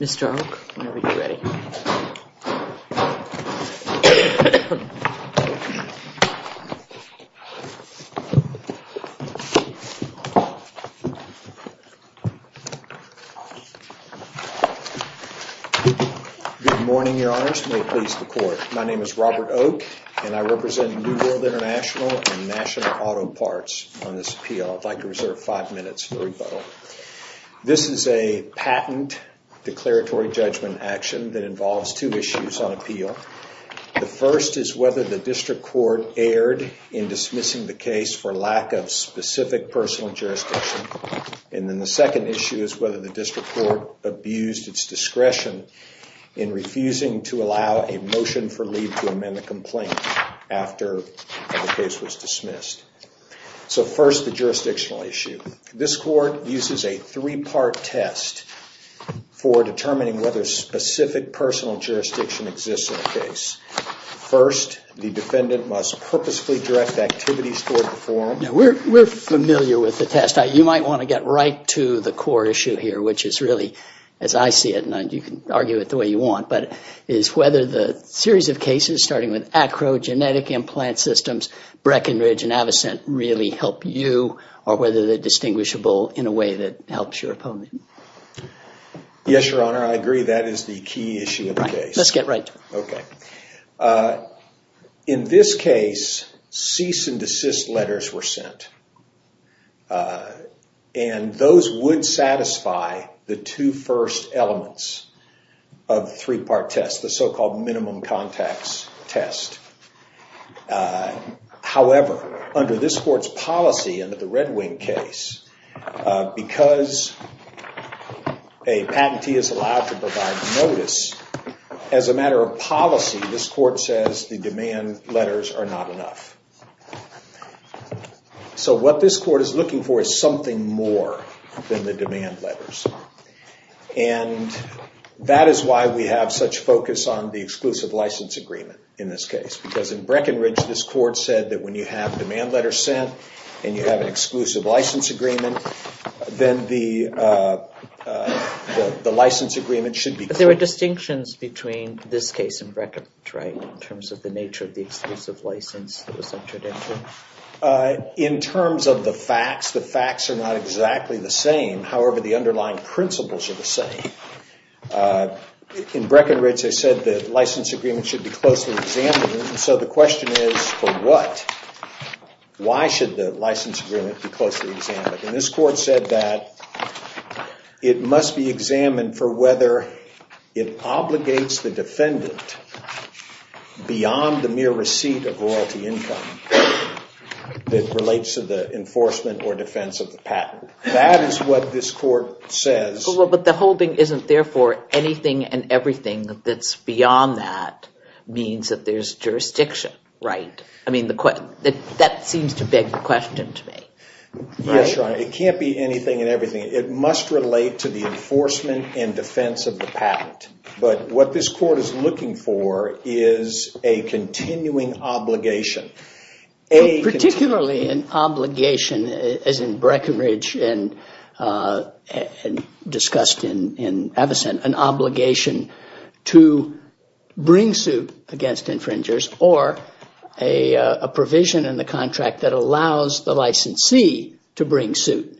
Mr. Oak, whenever you're ready Good morning, Your Honors, and may it please the Court. My name is Robert Oak, and I represent New World International and National Auto Parts on this appeal. I'd like to reserve five minutes for rebuttal. This is a patent declaratory judgment action that involves two issues on appeal. The first is whether the District Court erred in dismissing the case for lack of specific personal jurisdiction. And then the second issue is whether the District Court abused its discretion in refusing to allow a motion for leave to amend the complaint after the case was dismissed. So first, the jurisdictional issue. This Court uses a three-part test for determining whether specific personal jurisdiction exists in the case. First, the defendant must purposefully direct activities toward the forum. Now, we're familiar with the test. You might want to get right to the core issue here, which is really, as I see it, and you can argue it the way you want, but it's whether the series of cases, starting with the one that was sent, really help you or whether they're distinguishable in a way that helps your opponent. Yes, Your Honor, I agree that is the key issue of the case. Let's get right to it. In this case, cease and desist letters were sent, and those would satisfy the two first elements of the three-part test, the so-called minimum context test. However, under this Court's policy, under the Red Wing case, because a patentee is allowed to provide notice, as a matter of policy, this Court says the demand letters are not enough. So what this Court is looking for is something more than the demand letters, and that is why we have such focus on the exclusive license agreement in this case, because in Breckenridge, this Court said that when you have a demand letter sent and you have an exclusive license agreement, then the license agreement should be clear. There are distinctions between this case and Breckenridge, right, in terms of the nature of the exclusive license that was entered into? In terms of the facts, the facts are not exactly the same, however, the underlying principles are the same. In Breckenridge, they said the license agreement should be closely examined, and so the question is, for what? Why should the license agreement be closely examined? And this Court said that it must be examined for whether it obligates the defendant beyond the mere receipt of royalty income that relates to the enforcement or defense of the patent. That is what this Court says. But the whole thing isn't, therefore, anything and everything that's beyond that means that there's jurisdiction, right? I mean, that seems to beg the question to me. Yes, Your Honor. It can't be anything and everything. It must relate to the enforcement and defense of the patent. But what this Court is looking for is a continuing obligation. Particularly an obligation, as in Breckenridge and discussed in Avocent, an obligation to bring suit against infringers or a provision in the contract that allows the licensee to bring suit.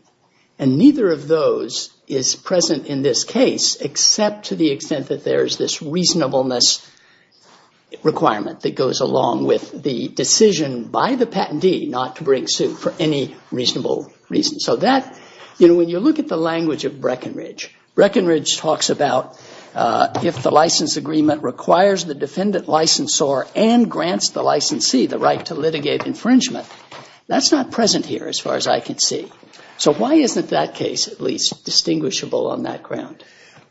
And neither of those is present in this case, except to the extent that there is this reasonableness requirement that goes along with the decision by the patentee not to bring suit for any reasonable reason. So that, you know, when you look at the language of Breckenridge, Breckenridge talks about if the license agreement requires the defendant licensor and grants the licensee the right to litigate infringement. That's not present here, as far as I can see. So why isn't that case, at least, distinguishable on that ground?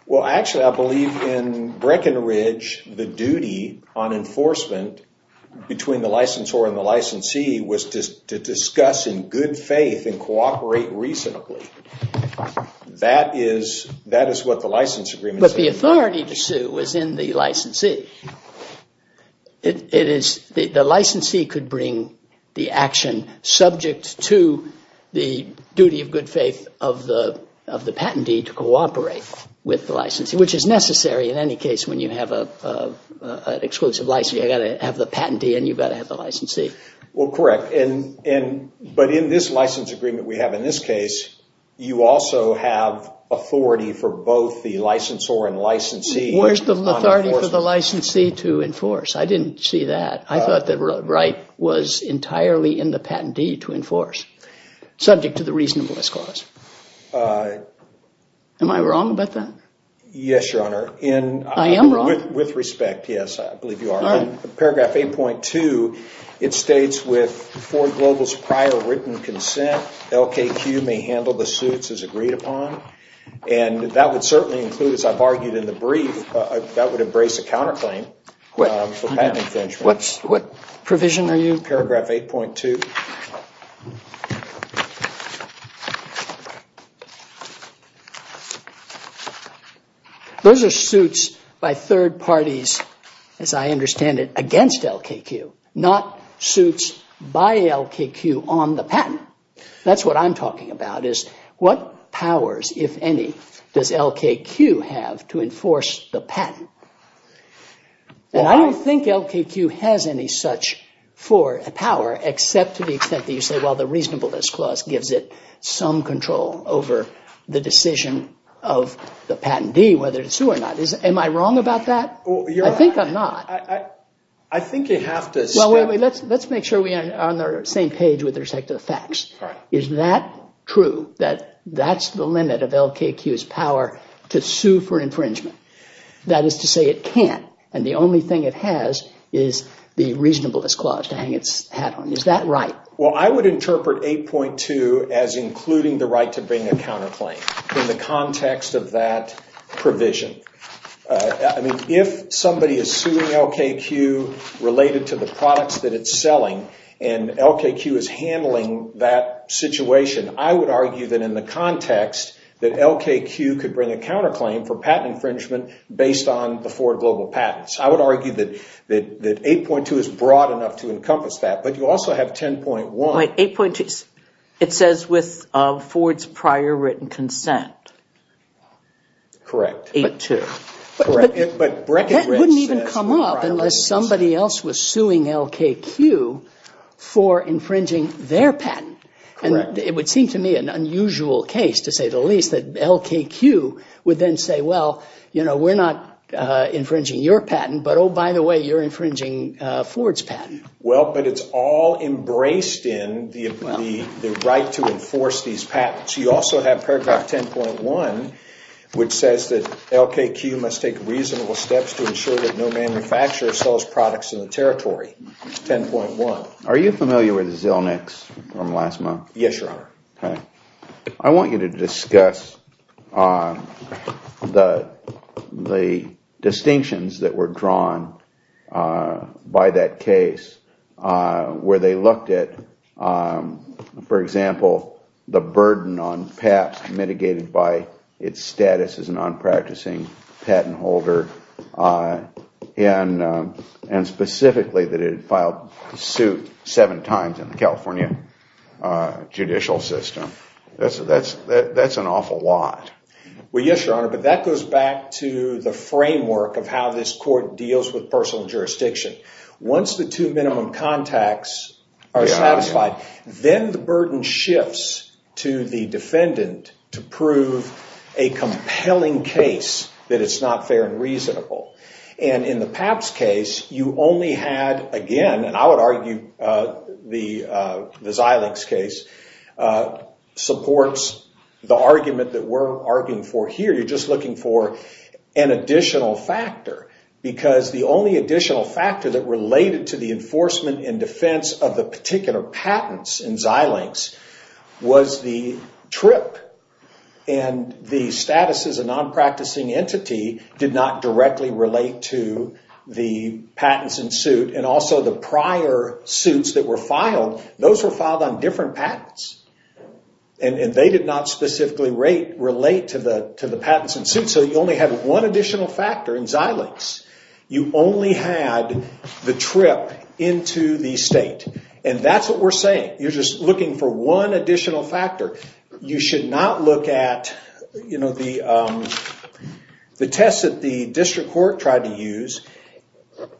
Well, actually, I believe in Breckenridge, the duty on enforcement between the licensor and the licensee was to discuss in good faith and cooperate reasonably. That is what the license agreement says. But the authority to sue was in the licensee. It is, the licensee could bring the action subject to the duty of good faith of the patentee to cooperate with the licensee, which is necessary in any case when you have an exclusive license. You've got to have the patentee and you've got to have the licensee. Well, correct. And, but in this license agreement we have in this case, you also have authority for both the licensor and licensee. Where's the authority for the licensee to enforce? I didn't see that. I thought that Wright was entirely in the patentee to enforce, subject to the reasonableness clause. Am I wrong about that? Yes, Your Honor. I am wrong? With respect, yes. I believe you are. All right. Paragraph 8.2, it states with Ford Global's prior written consent, LKQ may handle the suits as agreed upon. And that would certainly include, as I've argued in the brief, that would embrace a counterclaim for patent infringement. What provision are you? Paragraph 8.2. Those are suits by third parties, as I understand it, against LKQ, not suits by LKQ on the patent. That's what I'm talking about, is what powers, if any, does LKQ have to enforce the patent? And I don't think LKQ has any such power, except to the extent that you say, well, the reasonableness clause gives it some control over the decision of the patentee, whether to sue or not. Am I wrong about that? I think I'm not. I think you have to. Well, let's make sure we are on the same page with respect to the facts. Is that true, that that's the limit of LKQ's power to sue for infringement? That is to say it can't, and the only thing it has is the reasonableness clause to hang its hat on. Is that right? Well, I would interpret 8.2 as including the right to bring a counterclaim in the context of that provision. If somebody is suing LKQ related to the products that it's selling, and LKQ is handling that situation, I would argue that in the context that LKQ could bring a counterclaim for patent infringement based on the Ford Global Patents. I would argue that 8.2 is broad enough to encompass that, but you also have 10.1. Wait, 8.2, it says with Ford's prior written consent. Correct. 8.2. But that wouldn't even come up unless somebody else was suing LKQ for infringing their patent. And it would seem to me an unusual case, to say the least, that LKQ would then say, well, you know, we're not infringing your patent, but oh, by the way, you're infringing Ford's patent. Well, but it's all embraced in the right to enforce these patents. You also have paragraph 10.1, which says that LKQ must take reasonable steps to ensure that no manufacturer sells products in the territory, 10.1. Are you familiar with Zilnick's from last month? Yes, Your Honor. I want you to discuss the distinctions that were drawn by that case where they looked at, for example, the burden on PAPS mitigated by its status as a non-practicing patent holder and specifically that it filed suit seven times in the California judicial system. That's an awful lot. Well, yes, Your Honor, but that goes back to the framework of how this court deals with personal jurisdiction. Once the two minimum contacts are satisfied, then the burden shifts to the defendant to And in the PAPS case, you only had, again, and I would argue the Zilnick's case supports the argument that we're arguing for here. You're just looking for an additional factor because the only additional factor that related to the enforcement and defense of the particular patents in Zilnick's was the trip and the status as a non-practicing entity did not directly relate to the patents in suit and also the prior suits that were filed. Those were filed on different patents, and they did not specifically relate to the patents in suit, so you only had one additional factor in Zilnick's. You only had the trip into the state, and that's what we're saying. You're just looking for one additional factor. You should not look at the tests that the district court tried to use,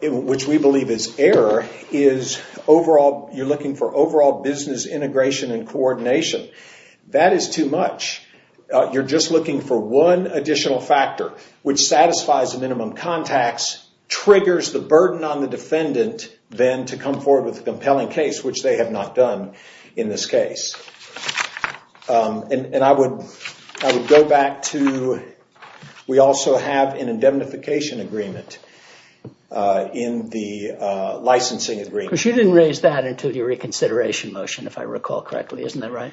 which we believe is error, is you're looking for overall business integration and coordination. That is too much. You're just looking for one additional factor, which satisfies the minimum contacts, triggers the burden on the defendant, then to come forward with a compelling case, which they have not done in this case. I would go back to, we also have an indemnification agreement in the licensing agreement. You didn't raise that until your reconsideration motion, if I recall correctly, isn't that right?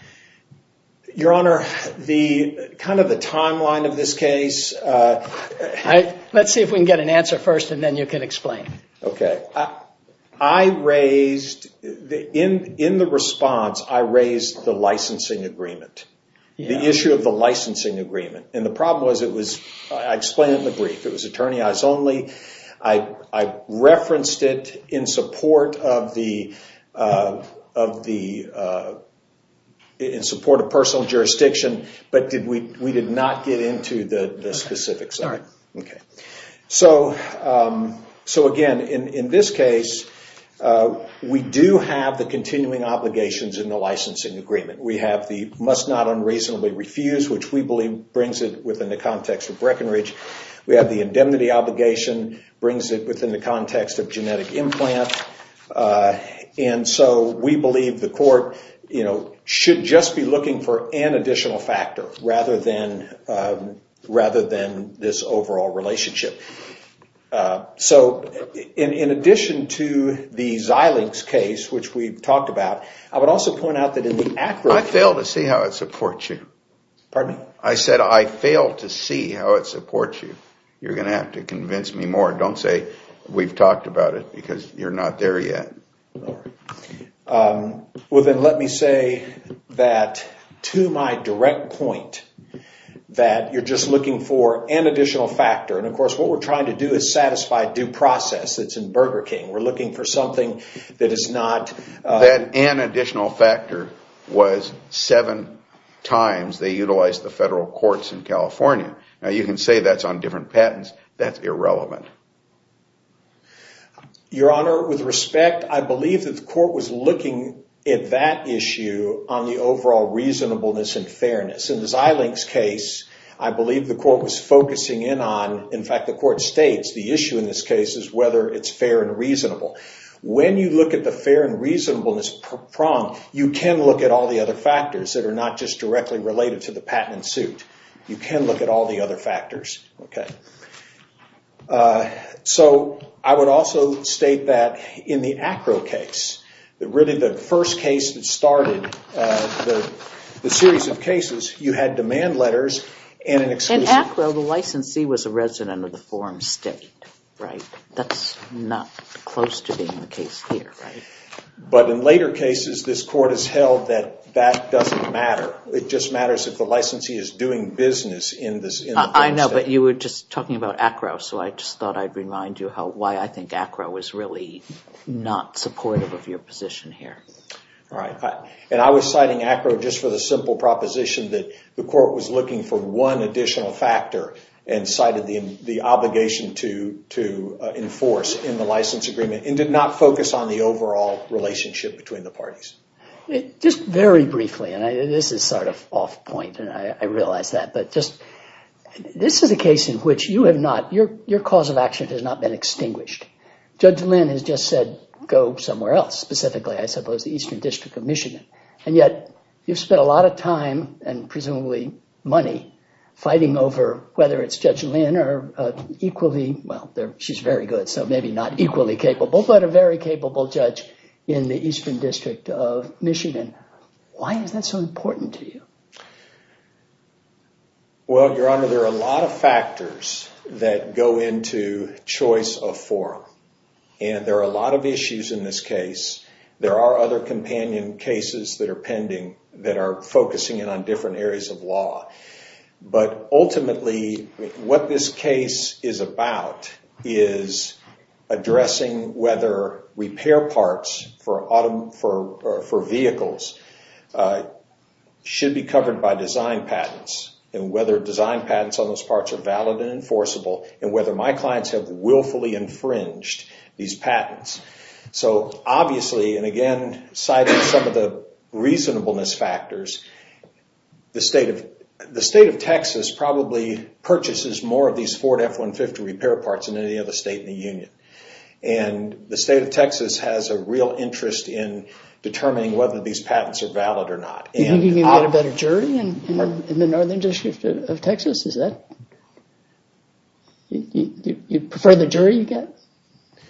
Your Honor, kind of the timeline of this case. Let's see if we can get an answer first, and then you can explain. Okay. I raised, in the response, I raised the licensing agreement, the issue of the licensing agreement. The problem was it was, I explained it in the brief, it was attorney eyes only. I referenced it in support of personal jurisdiction, but we did not get into the specifics of it. Again, in this case, we do have the continuing obligations in the licensing agreement. We have the must not unreasonably refuse, which we believe brings it within the context of Breckenridge. We have the indemnity obligation, brings it within the context of genetic implant. We believe the court should just be looking for an additional factor rather than this overall relationship. In addition to the Xilinx case, which we've talked about, I would also point out that in the accurate- I fail to see how it supports you. Pardon me? I said I fail to see how it supports you. You're going to have to convince me more. Don't say we've talked about it because you're not there yet. Well, then let me say that to my direct point, that you're just looking for an additional factor. Of course, what we're trying to do is satisfy due process. It's in Burger King. We're looking for something that is not- That an additional factor was seven times they utilized the federal courts in California. You can say that's on different patents. That's irrelevant. Your Honor, with respect, I believe that the court was looking at that issue on the overall reasonableness and fairness. In the Xilinx case, I believe the court was focusing in on- In fact, the court states the issue in this case is whether it's fair and reasonable. When you look at the fair and reasonableness prong, you can look at all the other factors that are not just directly related to the patent and suit. You can look at all the other factors. I would also state that in the ACRO case, really the first case that started the series of cases, you had demand letters and an exclusion. In ACRO, the licensee was a resident of the form state. That's not close to being the case here. In later cases, this court has held that that doesn't matter. It just matters if the licensee is doing business in the form state. I know, but you were just talking about ACRO, so I just thought I'd remind you why I think ACRO is really not supportive of your position here. I was citing ACRO just for the simple proposition that the court was looking for one additional factor and cited the obligation to enforce in the license agreement and did not focus on the overall relationship between the parties. Just very briefly, and this is sort of off point and I realize that, but this is a case in which your cause of action has not been extinguished. Judge Lynn has just said go somewhere else, specifically, I suppose, the Eastern District of Michigan, and yet you've spent a lot of time and presumably money fighting over whether it's Judge Lynn or equally, well, she's very good, so maybe not equally capable, but a very capable judge in the Eastern District of Michigan. Why is that so important to you? Well, Your Honor, there are a lot of factors that go into choice of forum, and there are a lot of issues in this case. There are other companion cases that are pending that are focusing in on different areas of repair parts for vehicles should be covered by design patents and whether design patents on those parts are valid and enforceable and whether my clients have willfully infringed these patents. Obviously, and again, citing some of the reasonableness factors, the state of Texas probably purchases more of these Ford F-150 repair parts than any other state in the union. And the state of Texas has a real interest in determining whether these patents are valid or not. Do you think you can get a better jury in the Northern District of Texas? You prefer the jury you get?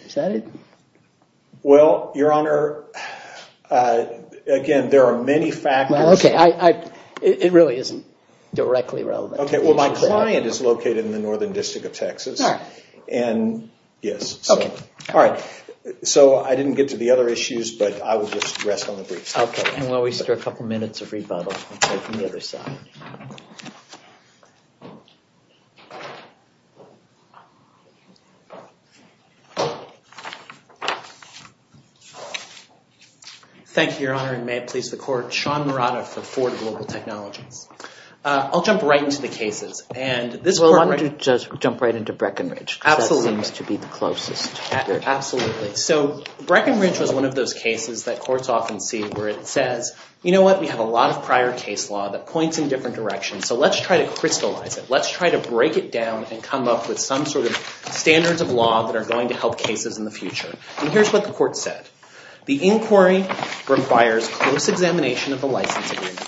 Is that it? Well, Your Honor, again, there are many factors. Okay, it really isn't directly relevant. Okay, well, my client is located in the Northern District of Texas. All right. And yes, all right. So I didn't get to the other issues, but I would just rest on the briefs. Okay, and while we stir a couple minutes of rebuttal, we'll take it from the other side. Thank you, Your Honor, and may it please the Court. Sean Murata for Ford Global Technologies. I'll jump right into the cases. We'll want to just jump right into Breckenridge, because that seems to be the closest. Absolutely. So Breckenridge was one of those cases that courts often see where it says, you know what? We have a lot of prior case law that points in different directions. So let's try to crystallize it. Let's try to break it down and come up with some sort of standards of law that are going to help cases in the future. And here's what the court said. The inquiry requires close examination of the license agreement.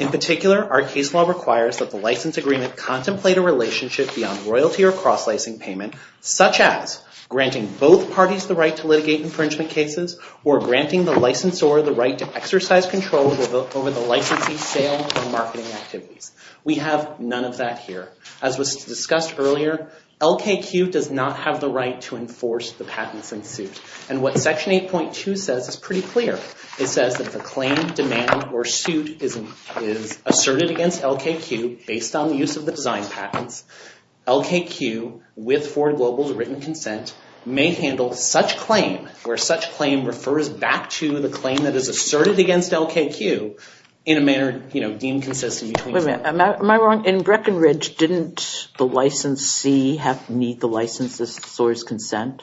In particular, our case law requires that the license agreement contemplate a relationship beyond royalty or cross-licensing payment, such as granting both parties the right to litigate infringement cases or granting the licensor the right to exercise control over the licensee's sale or marketing activities. We have none of that here. As was discussed earlier, LKQ does not have the right to enforce the patents in suit. And what Section 8.2 says is pretty clear. It says that if a claim, demand, or suit is asserted against LKQ based on the use of the design patents, LKQ, with Ford Global's written consent, may handle such claim where such claim refers back to the claim that is asserted against LKQ in a manner, you know, deemed consistent between... Wait a minute. Am I wrong? In Breckenridge, didn't the licensee need the licensor's consent?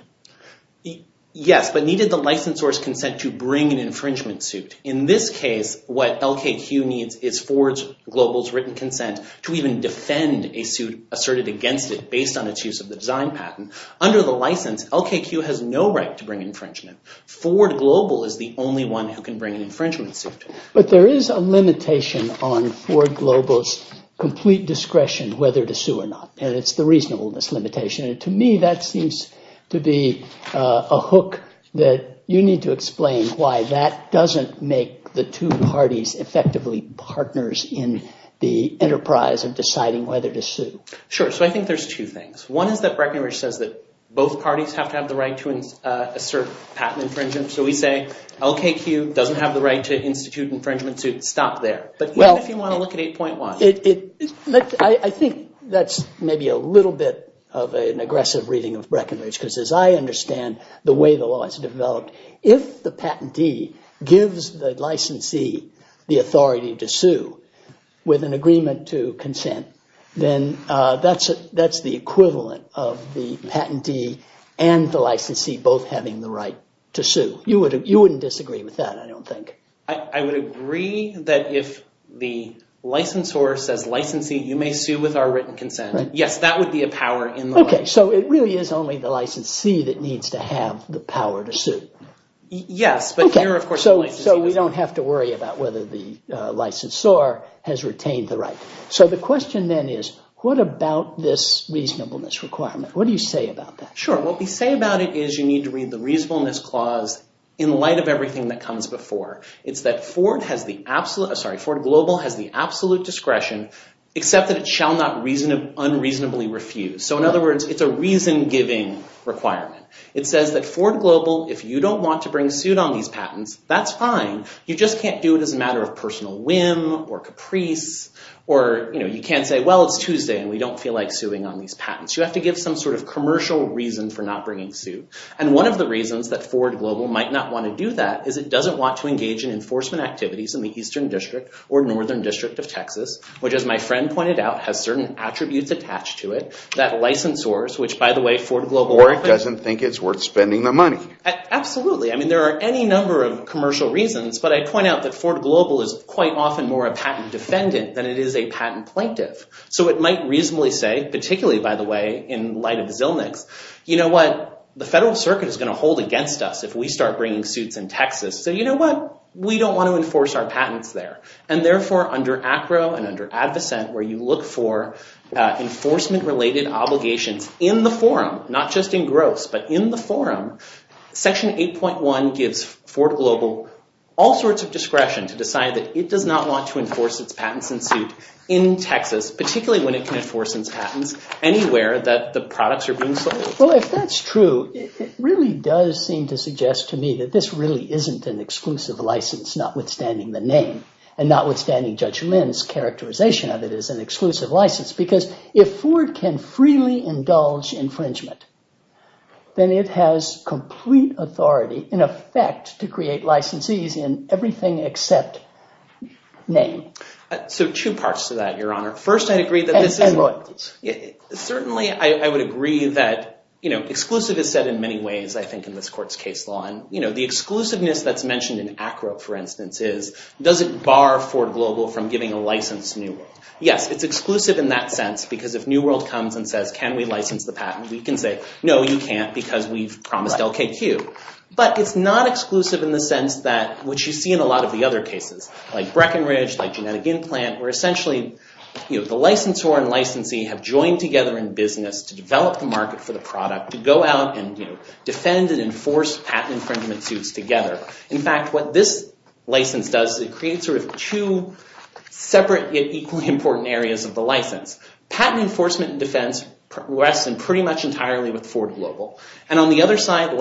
Yes, but needed the licensor's consent to bring an infringement suit. In this case, what LKQ needs is Ford Global's written consent to even defend a suit asserted against it based on its use of the design patent. Under the license, LKQ has no right to bring infringement. Ford Global is the only one who can bring an infringement suit. But there is a limitation on Ford Global's complete discretion whether to sue or not. And it's the reasonableness limitation. To me, that seems to be a hook that you need to explain why that doesn't make the two parties effectively partners in the enterprise of deciding whether to sue. Sure. So I think there's two things. One is that Breckenridge says that both parties have to have the right to assert patent infringement. So we say LKQ doesn't have the right to institute infringement suit. Stop there. But even if you want to look at 8.1... I think that's maybe a little bit of an aggressive reading of Breckenridge. Because as I understand the way the law is developed, if the patentee gives the licensee the authority to sue with an agreement to consent, then that's the equivalent of the patentee and the licensee both having the right to sue. You wouldn't disagree with that, I don't think. I would agree that if the licensor says licensee, you may sue with our written consent. Yes, that would be a power in the law. Okay. So it really is only the licensee that needs to have the power to sue. Yes. So we don't have to worry about whether the licensor has retained the right. So the question then is, what about this reasonableness requirement? What do you say about that? Sure. What we say about it is you need to read the reasonableness clause in light of everything that comes before. It's that Ford Global has the absolute discretion, except that it shall not unreasonably refuse. So in other words, it's a reason-giving requirement. It says that Ford Global, if you don't want to bring suit on these patents, that's fine. You just can't do it as a matter of personal whim or caprice. Or you can't say, well, it's Tuesday and we don't feel like suing on these patents. You have to give some sort of commercial reason for not bringing suit. And one of the reasons that Ford Global might not want to do that is it doesn't want to engage in enforcement activities in the Eastern District or Northern District of Texas, which, as my friend pointed out, has certain attributes attached to it that licensors, which, by the way, Ford Global- Or it doesn't think it's worth spending the money. Absolutely. I mean, there are any number of commercial reasons, but I point out that Ford Global is quite often more a patent defendant than it is a patent plaintiff. So it might reasonably say, particularly, by the way, in light of Zilnick's, you know what? The federal circuit is going to hold against us if we start bringing suits in Texas. So you know what? We don't want to enforce our patents there. And therefore, under ACRO and under Advocent, where you look for enforcement-related obligations in the forum, not just in gross, but in the forum, Section 8.1 gives Ford Global all sorts of discretion to decide that it does not want to enforce its patents in suit in Texas, particularly when it can enforce its patents anywhere that the products are being sold. Well, if that's true, it really does seem to suggest to me that this really isn't an exclusive license, notwithstanding the name, and notwithstanding Judge Lin's characterization of it as an exclusive license. Because if Ford can freely indulge infringement, then it has complete authority, in effect, to create licensees in everything except name. So two parts to that, Your Honor. First, I'd agree that this is- And what? Certainly, I would agree that exclusive is said in many ways, I think, in this Court's case law. And the exclusiveness that's mentioned in ACRO, for instance, is does it bar Ford Global from giving a license to New World? Yes, it's exclusive in that sense, because if New World comes and says, can we license the patent? We can say, no, you can't because we've promised LKQ. But it's not exclusive in the sense that, which you see in a lot of the other cases, like Breckenridge, like Genetic Implant, where essentially the licensor and licensee have joined together in business to develop the market for the product, to go out and defend and enforce patent infringement suits together. In fact, what this license does is it creates two separate, yet equally important areas of the license. Patent enforcement and defense rests pretty much entirely with Ford Global. And on the other side,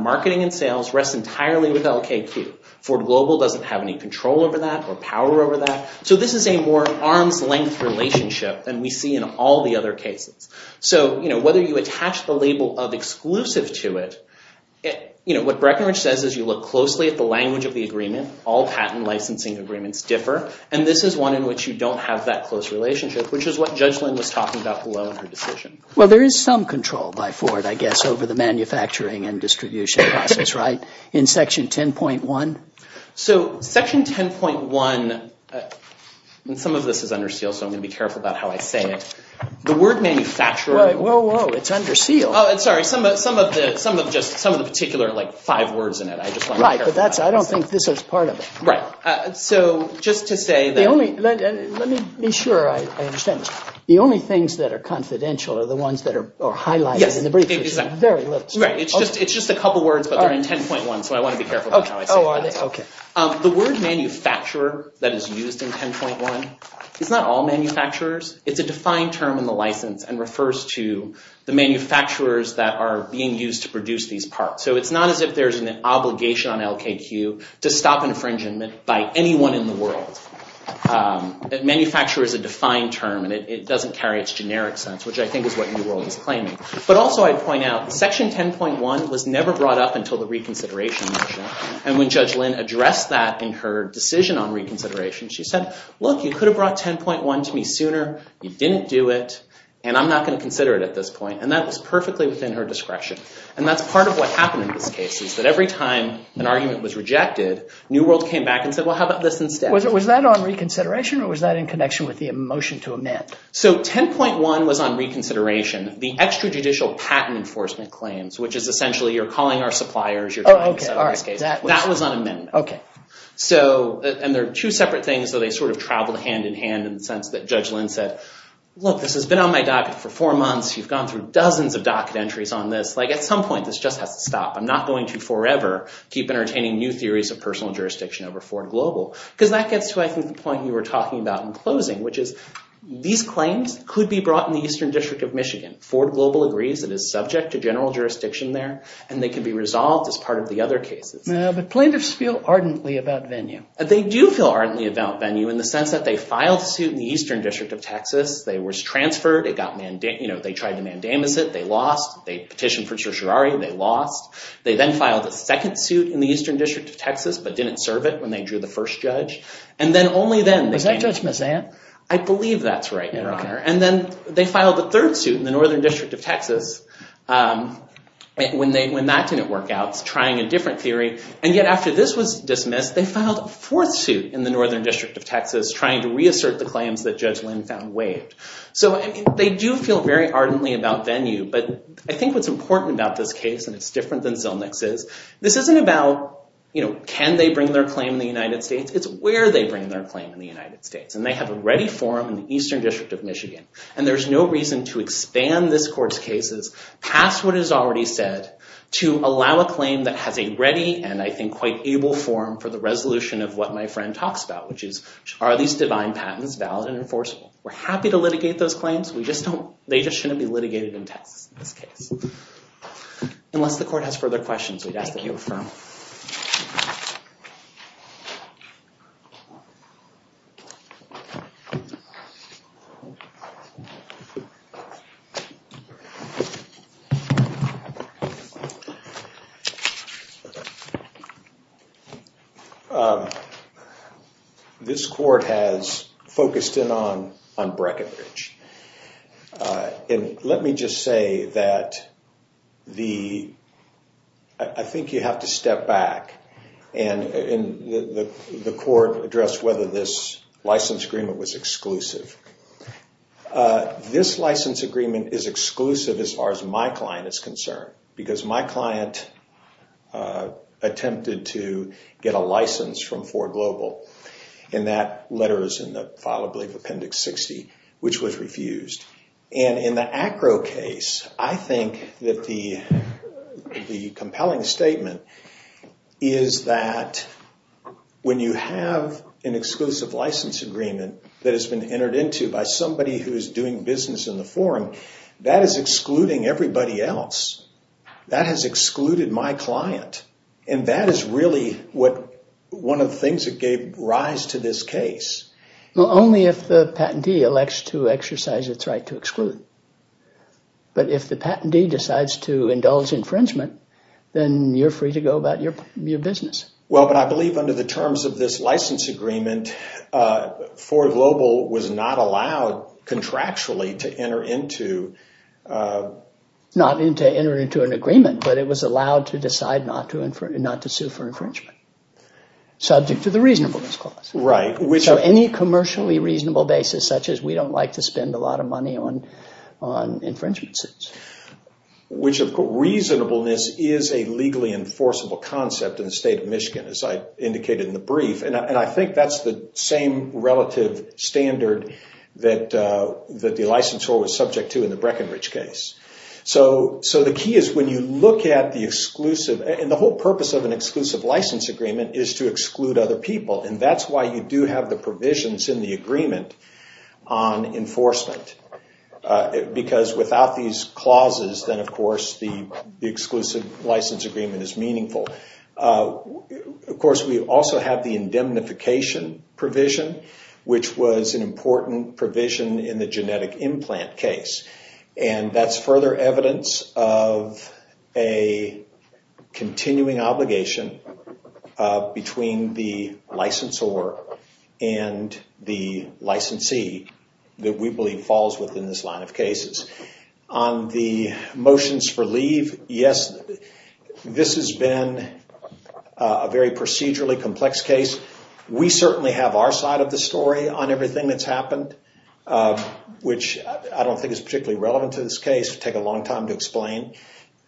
marketing and sales rests entirely with LKQ. Ford Global doesn't have any control over that or power over that. So this is a more arm's length relationship than we see in all the other cases. So whether you attach the label of exclusive to it, what Breckenridge says is you look closely at the language of the agreement. All patent licensing agreements differ. And this is one in which you don't have that close relationship, which is what Judge Lynn was talking about below in her decision. Well, there is some control by Ford, I guess, over the manufacturing and distribution process, right? In Section 10.1? So Section 10.1, and some of this is under seal, so I'm going to be careful about how I say it. The word manufacturing... Right, whoa, whoa, it's under seal. Oh, sorry. Some of the particular, like, five words in it. I just want to be careful. Right, but I don't think this is part of it. Right. So just to say that... The only, let me be sure I understand this. The only things that are confidential are the ones that are highlighted in the briefcase. Yes, exactly. Very little. Right, it's just a couple words, but they're in 10.1, so I want to be careful about how I say that. Okay. The word manufacturer that is used in 10.1 is not all manufacturers. It's a defined term in the license and refers to the manufacturers that are being used to produce these parts. So it's not as if there's an obligation on LKQ to stop infringement by anyone in the world. Manufacture is a defined term and it doesn't carry its generic sense, which I think is what New World is claiming. But also I'd point out, Section 10.1 was never brought up until the reconsideration measure, and when Judge Lynn addressed that in her decision on reconsideration, she said, look, you could have brought 10.1 to me sooner. You didn't do it and I'm not going to consider it at this point. And that was perfectly within her discretion. And that's part of what happened in this case is that every time an argument was rejected, New World came back and said, well, how about this instead? Was that on reconsideration or was that in connection with the motion to amend? So 10.1 was on reconsideration. The extrajudicial patent enforcement claims, which is essentially you're calling our suppliers, in this case, that was on amendment. And they're two separate things, so they sort of traveled hand in hand in the sense that Judge Lynn said, look, this has been on my docket for four months. You've gone through dozens of docket entries on this. At some point, this just has to stop. I'm not going to forever keep entertaining new theories of personal jurisdiction over Ford Global. Because that gets to, I think, the point you were talking about in closing, which is these claims could be brought in the Eastern District of Michigan. Ford Global agrees it is subject to general jurisdiction there and they can be resolved as part of the other cases. No, but plaintiffs feel ardently about Venue. They do feel ardently about Venue in the sense that they filed a suit in the Eastern District of Texas. They was transferred. It got, you know, they tried to mandamus it. They lost. They petitioned for certiorari. They lost. They then filed a second suit in the Eastern District of Texas, but didn't serve it when they drew the first judge. And then only then- Was that Judge Mazant? I believe that's right, Your Honor. And then they filed the third suit in the Northern District of Texas when that didn't work out, trying a different theory. And yet after this was dismissed, they filed a fourth suit in the Northern District of Texas, trying to reassert the claims that Judge Lynn found waived. So, I mean, they do feel very ardently about Venue, but I think what's important about this case, and it's different than Zillnick's is, this isn't about, you know, can they bring their claim in the United States? It's where they bring their claim in the United States. And they have a ready forum in the Eastern District of Michigan. And there's no reason to expand this court's cases past what is already said to allow a claim that has a ready, and I think quite able forum for the resolution of what my friend talks about, which is, are these divine patents valid and enforceable? We're happy to litigate those claims. We just don't, they just shouldn't be litigated in Texas in this case. Unless the court has further questions, we'd ask that you refer them. So, this court has focused in on Breckenridge. And let me just say that the, I think you have to step back, and the court addressed whether this license agreement was exclusive. This license agreement is exclusive as far as my client is concerned, because my client attempted to get a license from Ford Global, and that letter is in the file, I believe, Appendix 60, which was refused. And in the ACRO case, I think that the compelling statement is that when you have an exclusive license agreement that has been entered into by somebody who is doing business in the forum, that is excluding everybody else. That has excluded my client. And that is really what, one of the things that gave rise to this case. Well, only if the patentee elects to exercise its right to exclude. But if the patentee decides to indulge infringement, then you're free to go about your business. Well, but I believe under the terms of this license agreement, Ford Global was not allowed contractually to enter into... Not enter into an agreement, but it was allowed to decide not to sue for infringement, subject to the reasonableness clause. Right, which... So any commercially reasonable basis, such as we don't like to spend a lot of money on infringement suits. Which, of course, reasonableness is a legally enforceable concept in the state of Michigan, as I indicated in the brief. And I think that's the same relative standard that the licensor was subject to in the Breckenridge case. So the key is when you look at the exclusive... And the whole purpose of an exclusive license agreement is to exclude other people. And that's why you do have the provisions in the agreement on enforcement. Because without these clauses, then, of course, the exclusive license agreement is meaningful. Of course, we also have the indemnification provision, which was an important provision in the genetic implant case. And that's further evidence of a continuing obligation between the licensor and the licensee that we believe falls within this line of cases. On the motions for leave, yes, this has been a very procedurally complex case. We certainly have our side of the story on everything that's happened, which I don't think is particularly relevant to this case. It would take a long time to explain.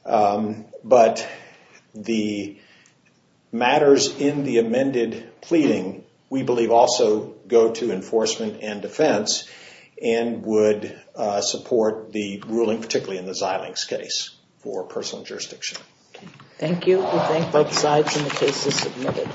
But the matters in the amended pleading, we believe also go to enforcement and defense and would support the ruling, particularly in the Xilinx case for personal jurisdiction. Thank you. We thank both sides. And the case is submitted.